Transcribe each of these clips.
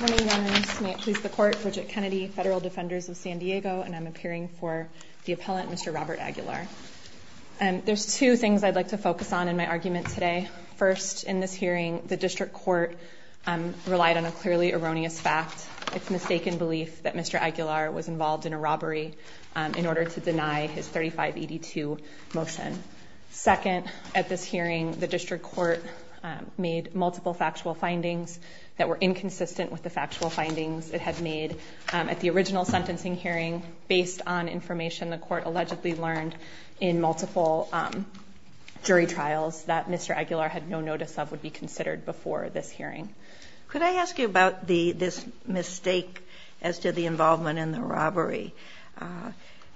Ladies and gentlemen, may it please the court, Bridget Kennedy, Federal Defenders of San Diego, and I'm appearing for the appellant, Mr. Robert Aguilar. There's two things I'd like to focus on in my argument today. First, in this hearing, the district court relied on a clearly erroneous fact, its mistaken belief that Mr. Aguilar was involved in a robbery, in order to deny his 3582 motion. Second, at this hearing, the district court made multiple factual findings that were inconsistent with the factual findings it had made at the original sentencing hearing, based on information the court allegedly learned in multiple jury trials that Mr. Aguilar had no notice of would be considered before this hearing. Could I ask you about this mistake as to the involvement in the robbery?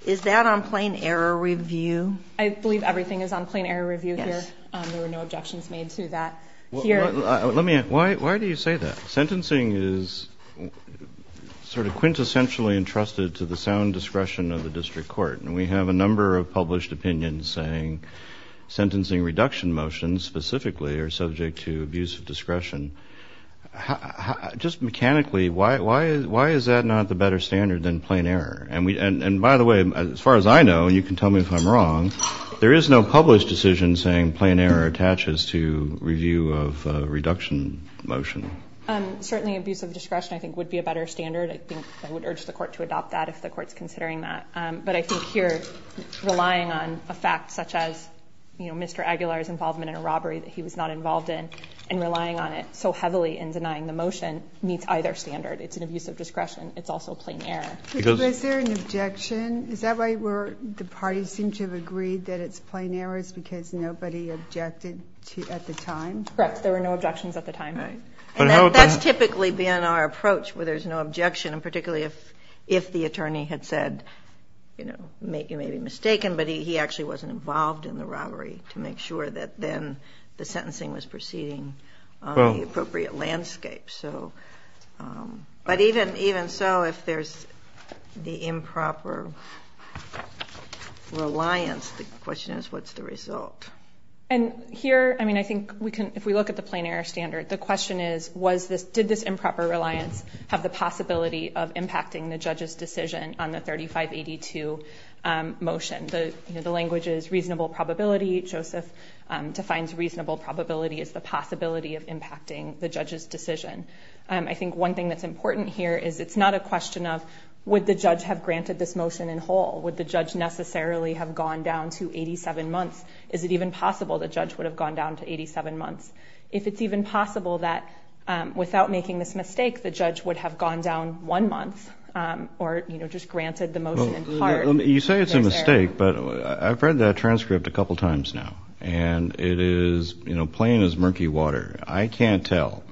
Is that on plain error review? I believe everything is on plain error review here. There were no objections made to that. Let me ask, why do you say that? Sentencing is sort of quintessentially entrusted to the sound discretion of the district court, and we have a number of published opinions saying sentencing reduction motions specifically are subject to abuse of discretion. Just mechanically, why is that not the better standard than plain error? And by the way, as far as I know, and you can tell me if I'm wrong, there is no published decision saying plain error attaches to review of a reduction motion. Certainly, abuse of discretion, I think, would be a better standard. I think I would urge the court to adopt that, if the court is considering that. But I think here, relying on a fact such as, you know, Mr. Aguilar's involvement in a robbery that he was not involved in, and relying on it so heavily in denying the motion, meets either standard. It's an abuse of discretion. It's also plain error. Was there an objection? Is that right, where the parties seem to have agreed that it's plain errors because nobody objected at the time? Correct. There were no objections at the time. And that's typically been our approach, where there's no objection, and particularly if the attorney had said, you know, you may be mistaken, but he actually wasn't involved in the robbery, to make sure that then the sentencing was proceeding on the appropriate landscape. But even so, if there's the improper reliance, the question is, what's the result? And here, I mean, I think if we look at the plain error standard, the question is, did this improper reliance have the possibility of impacting the judge's decision on the 3582 motion? The language is reasonable probability. Joseph defines reasonable probability as the possibility of impacting the judge's decision. I think one thing that's important here is it's not a question of, would the judge have granted this motion in whole? Would the judge necessarily have gone down to 87 months? Is it even possible the judge would have gone down to 87 months? If it's even possible that without making this mistake, the judge would have gone down one month or, you know, just granted the motion in part. You say it's a mistake, but I've read that transcript a couple times now, and it is, you know, plain as murky water. I can't tell.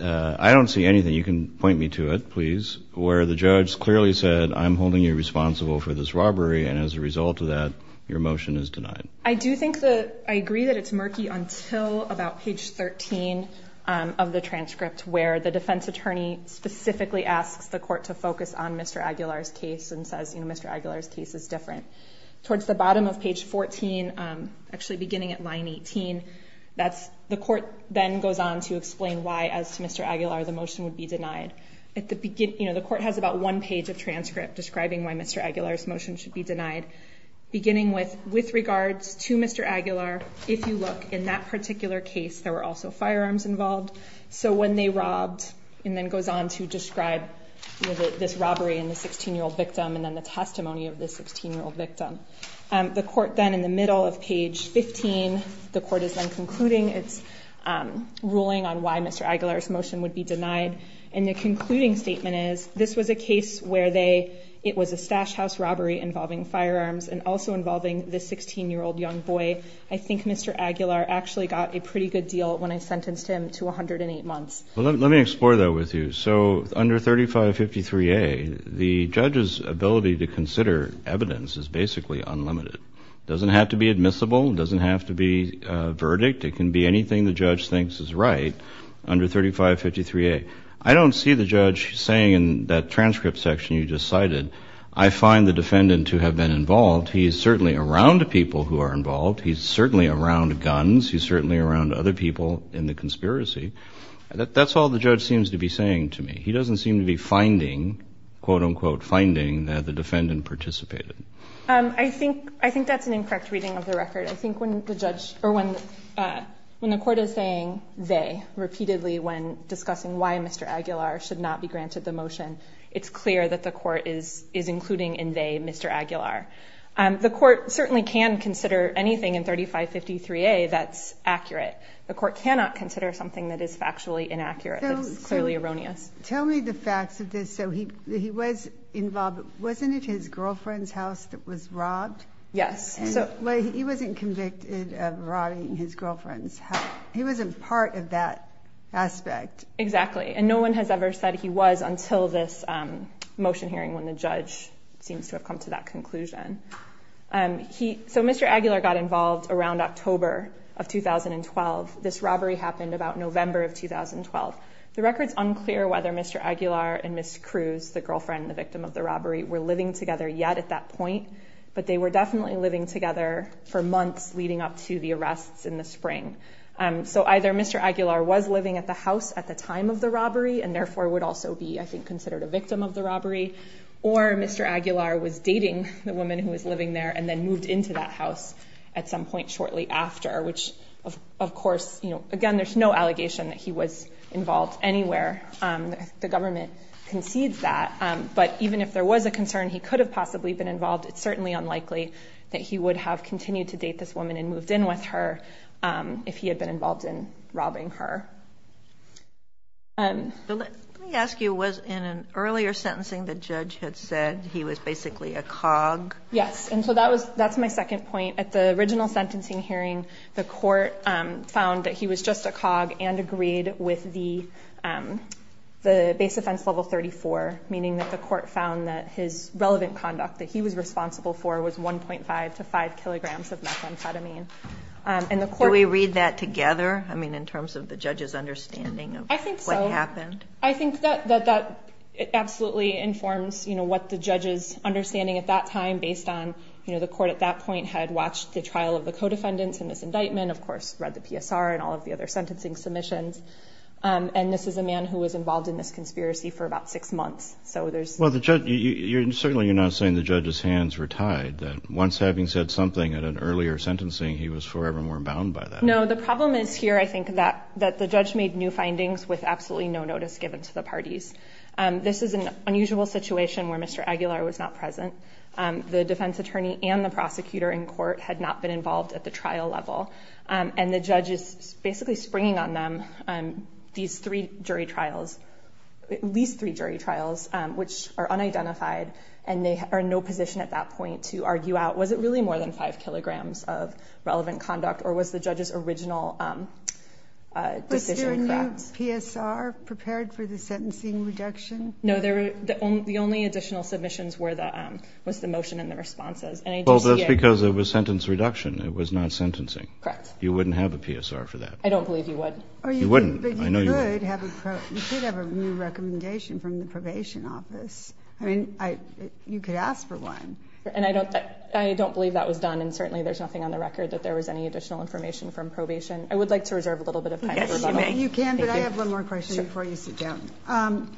I don't see anything. You can point me to it, please, where the judge clearly said, I'm holding you responsible for this robbery. And as a result of that, your motion is denied. I do think that I agree that it's murky until about page 13 of the transcript, where the defense attorney specifically asks the court to focus on Mr. Aguilar's case and says, you know, Mr. Aguilar's case is different. Towards the bottom of page 14, actually beginning at line 18, that's, the court then goes on to explain why, as to Mr. Aguilar, the motion would be denied. At the beginning, you know, the court has about one page of transcript describing why Mr. Aguilar's motion should be denied. Beginning with, with regards to Mr. Aguilar, if you look, in that particular case, there were also firearms involved. So when they robbed, and then goes on to describe this robbery and the 16-year-old victim and then the testimony of this 16-year-old victim. The court then, in the middle of page 15, the court is then concluding its ruling on why Mr. Aguilar's motion would be denied. And the concluding statement is, this was a case where they, it was a stash house robbery involving firearms and also involving this 16-year-old young boy. I think Mr. Aguilar actually got a pretty good deal when I sentenced him to 108 months. Well, let me explore that with you. So under 3553A, the judge's ability to consider evidence is basically unlimited. It doesn't have to be admissible. It doesn't have to be a verdict. It can be anything the judge thinks is right under 3553A. I don't see the judge saying in that transcript section you just cited, I find the defendant to have been involved. He is certainly around people who are involved. He's certainly around guns. He's certainly around other people in the conspiracy. That's all the judge seems to be saying to me. He doesn't seem to be finding, quote-unquote, finding that the defendant participated. I think that's an incorrect reading of the record. I think when the court is saying they repeatedly when discussing why Mr. Aguilar should not be granted the motion, it's clear that the court is including in they Mr. Aguilar. The court certainly can consider anything in 3553A that's accurate. The court cannot consider something that is factually inaccurate, that is clearly erroneous. Tell me the facts of this. So he was involved. Wasn't it his girlfriend's house that was robbed? Yes. He wasn't convicted of robbing his girlfriend's house. He wasn't part of that aspect. Exactly. And no one has ever said he was until this motion hearing when the judge seems to have come to that conclusion. So Mr. Aguilar got involved around October of 2012. This robbery happened about November of 2012. The record's unclear whether Mr. Aguilar and Ms. Cruz, the girlfriend and the victim of the robbery, were living together yet at that point, but they were definitely living together for months leading up to the arrests in the spring. So either Mr. Aguilar was living at the house at the time of the robbery and therefore would also be, I think, considered a victim of the robbery, or Mr. Aguilar was dating the woman who was living there and then moved into that house at some point shortly after, which, of course, again, there's no allegation that he was involved anywhere. The government concedes that. But even if there was a concern he could have possibly been involved, it's certainly unlikely that he would have continued to date this woman and moved in with her if he had been involved in robbing her. Let me ask you, was in an earlier sentencing the judge had said he was basically a cog? Yes, and so that's my second point. At the original sentencing hearing, the court found that he was just a cog and agreed with the base offense level 34, meaning that the court found that his relevant conduct that he was responsible for was 1.5 to 5 kilograms of methamphetamine. Do we read that together in terms of the judge's understanding of what happened? I think so. That absolutely informs what the judge's understanding at that time, based on the court at that point had watched the trial of the co-defendants in this indictment, of course, read the PSR and all of the other sentencing submissions, and this is a man who was involved in this conspiracy for about six months. Well, certainly you're not saying the judge's hands were tied, that once having said something at an earlier sentencing, he was forevermore bound by that. No, the problem is here, I think, that the judge made new findings with absolutely no notice given to the parties. This is an unusual situation where Mr. Aguilar was not present. The defense attorney and the prosecutor in court had not been involved at the trial level. And the judge is basically springing on them, these three jury trials, at least three jury trials, which are unidentified, and they are in no position at that point to argue out, was it really more than 5 kilograms of relevant conduct, or was the judge's original decision correct? Was there a new PSR prepared for the sentencing reduction? No, the only additional submissions was the motion and the responses. Well, that's because it was sentence reduction, it was not sentencing. Correct. You wouldn't have a PSR for that. I don't believe you would. You wouldn't. But you could have a new recommendation from the probation office. I mean, you could ask for one. And I don't believe that was done, and certainly there's nothing on the record that there was any additional information from probation. I would like to reserve a little bit of time for rebuttal. Yes, you may. You can, but I have one more question before you sit down.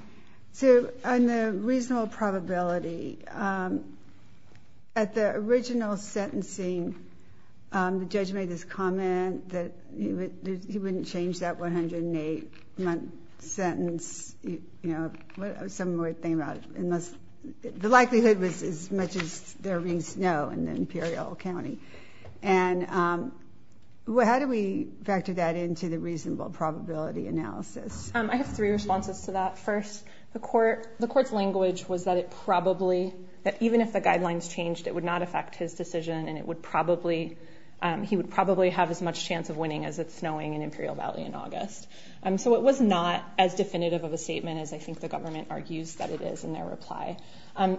So, on the reasonable probability, at the original sentencing, the judge made this comment that he wouldn't change that 108-month sentence. You know, some more thing about it. The likelihood was as much as there is now in the Imperial County. And how do we factor that into the reasonable probability analysis? I have three responses to that. First, the court's language was that even if the guidelines changed, it would not affect his decision, and he would probably have as much chance of winning as it's snowing in Imperial Valley in August. So it was not as definitive of a statement as I think the government argues that it is in their reply.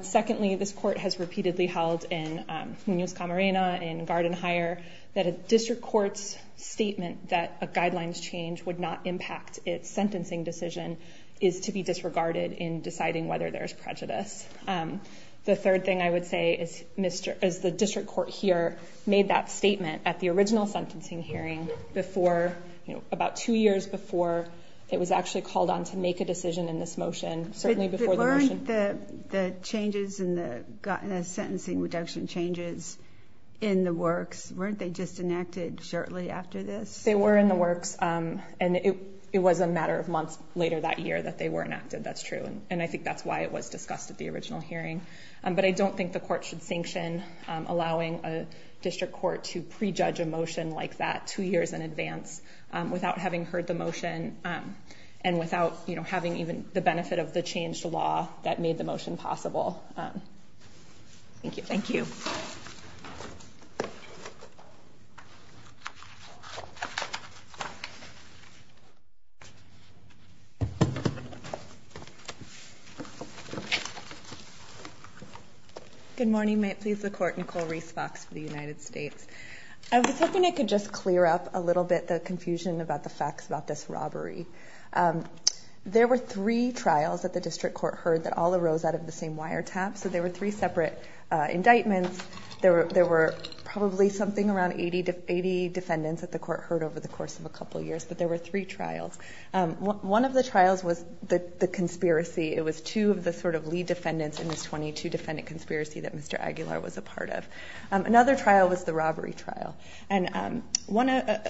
Secondly, this court has repeatedly held in Nunez-Camarena, in Garden Hire, that a district court's statement that a guidelines change would not impact its sentencing decision is to be disregarded in deciding whether there's prejudice. The third thing I would say is the district court here made that statement at the original sentencing hearing about two years before it was actually called on to make a decision in this motion. Weren't the changes in the sentencing reduction changes in the works? Weren't they just enacted shortly after this? They were in the works, and it was a matter of months later that year that they were enacted, that's true. And I think that's why it was discussed at the original hearing. But I don't think the court should sanction allowing a district court to prejudge a motion like that two years in advance without having heard the motion and without having even the benefit of the changed law that made the motion possible. Thank you. Thank you. Good morning. May it please the Court. Nicole Reese Fox for the United States. I was hoping I could just clear up a little bit the confusion about the facts about this robbery. There were three trials that the district court heard that all arose out of the same wiretap. So there were three separate indictments. There were probably something around 80 defendants that the court heard over the course of a couple of years, but there were three trials. One of the trials was the conspiracy. It was two of the sort of lead defendants in this 22-defendant conspiracy that Mr. Aguilar was a part of. Another trial was the robbery trial. And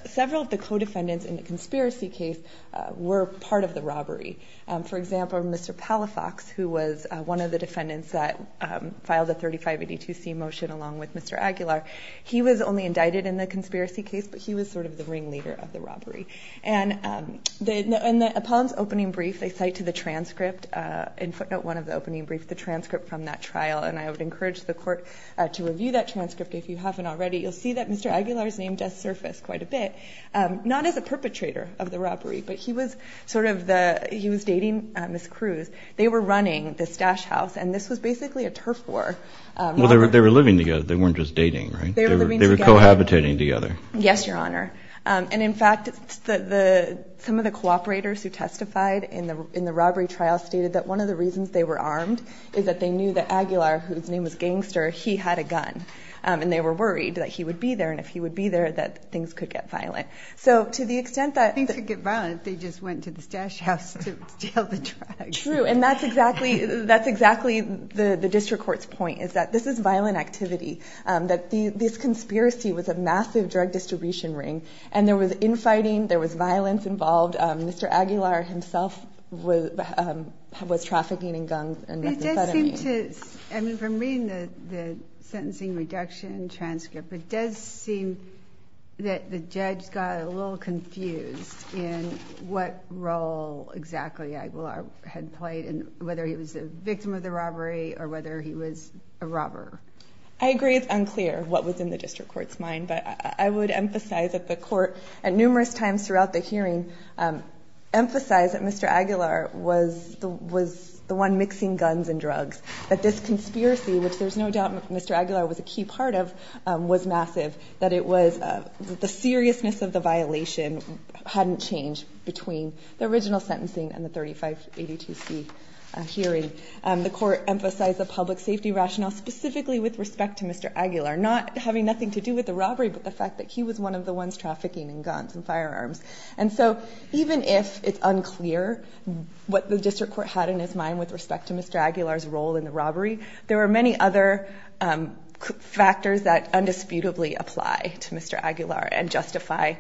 several of the co-defendants in the conspiracy case were part of the robbery. For example, Mr. Palafox, who was one of the defendants that filed the 3582C motion along with Mr. Aguilar, he was only indicted in the conspiracy case, but he was sort of the ringleader of the robbery. And upon his opening brief, they cite to the transcript, in footnote one of the opening brief, the transcript from that trial. And I would encourage the court to review that transcript if you haven't already. You'll see that Mr. Aguilar's name does surface quite a bit, not as a perpetrator of the robbery, but he was sort of the ‑‑ he was dating Ms. Cruz. They were running this stash house, and this was basically a turf war. Well, they were living together. They weren't just dating, right? They were living together. They were cohabitating together. Yes, Your Honor. And, in fact, some of the cooperators who testified in the robbery trial stated that one of the reasons they were armed is that they knew that Aguilar, whose name was Gangster, he had a gun. And they were worried that he would be there, and if he would be there, that things could get violent. So to the extent that ‑‑ Things could get violent if they just went to the stash house to steal the drugs. True. And that's exactly the district court's point, is that this is violent activity, that this conspiracy was a massive drug distribution ring, and there was infighting, there was violence involved. And Mr. Aguilar himself was trafficking in guns and reconciling. It does seem to ‑‑ I mean, from reading the sentencing reduction transcript, it does seem that the judge got a little confused in what role exactly Aguilar had played, and whether he was a victim of the robbery or whether he was a robber. I agree it's unclear what was in the district court's mind, but I would emphasize that the court at numerous times throughout the hearing emphasized that Mr. Aguilar was the one mixing guns and drugs, that this conspiracy, which there's no doubt Mr. Aguilar was a key part of, was massive, that it was ‑‑ the seriousness of the violation hadn't changed between the original sentencing and the 3582C hearing. The court emphasized the public safety rationale, specifically with respect to Mr. Aguilar, not having nothing to do with the robbery, but the fact that he was one of the ones trafficking in guns and firearms. And so even if it's unclear what the district court had in its mind with respect to Mr. Aguilar's role in the robbery, there are many other factors that undisputably apply to Mr. Aguilar and justify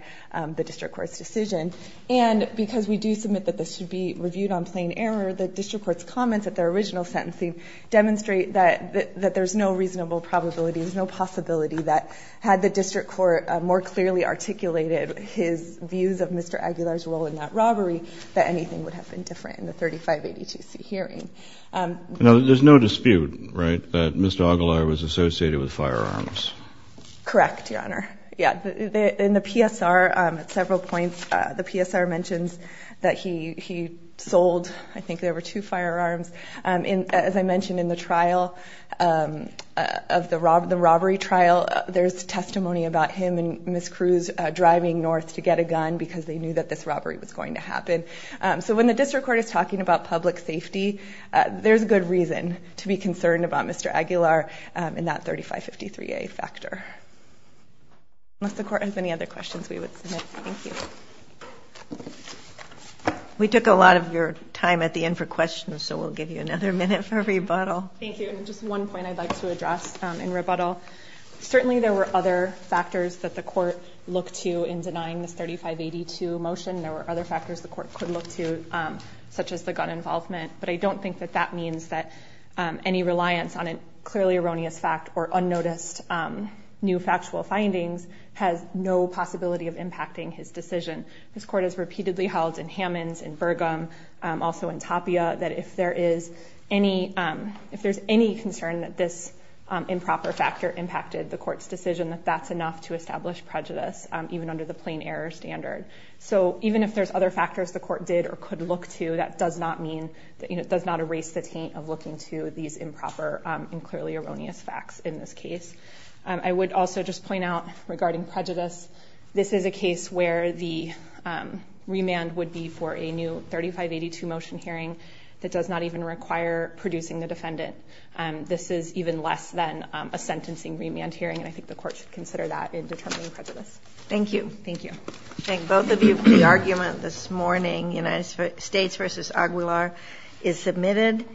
the district court's decision. And because we do submit that this should be reviewed on plain error, the district court's comments at their original sentencing demonstrate that there's no reasonable probability, there's no possibility that had the district court more clearly articulated his views of Mr. Aguilar's role in that robbery, that anything would have been different in the 3582C hearing. There's no dispute, right, that Mr. Aguilar was associated with firearms? Correct, Your Honor. In the PSR, at several points, the PSR mentions that he sold, I think there were two firearms. As I mentioned in the trial, the robbery trial, there's testimony about him and Ms. Cruz driving north to get a gun because they knew that this robbery was going to happen. So when the district court is talking about public safety, there's good reason to be concerned about Mr. Aguilar in that 3553A factor. Unless the court has any other questions we would submit. Thank you. We took a lot of your time at the end for questions, so we'll give you another minute for rebuttal. Thank you. Just one point I'd like to address in rebuttal. Certainly there were other factors that the court looked to in denying this 3582 motion. There were other factors the court could look to, such as the gun involvement. But I don't think that that means that any reliance on a clearly erroneous fact or unnoticed new factual findings has no possibility of impacting his decision. This court has repeatedly held in Hammonds, in Burgum, also in Tapia, that if there's any concern that this improper factor impacted the court's decision, that that's enough to establish prejudice, even under the plain error standard. So even if there's other factors the court did or could look to, that does not erase the taint of looking to these improper and clearly erroneous facts in this case. I would also just point out regarding prejudice, this is a case where the remand would be for a new 3582 motion hearing that does not even require producing the defendant. This is even less than a sentencing remand hearing, and I think the court should consider that in determining prejudice. Thank you. Thank you. I thank both of you for the argument this morning. United States v. Aguilar is submitted.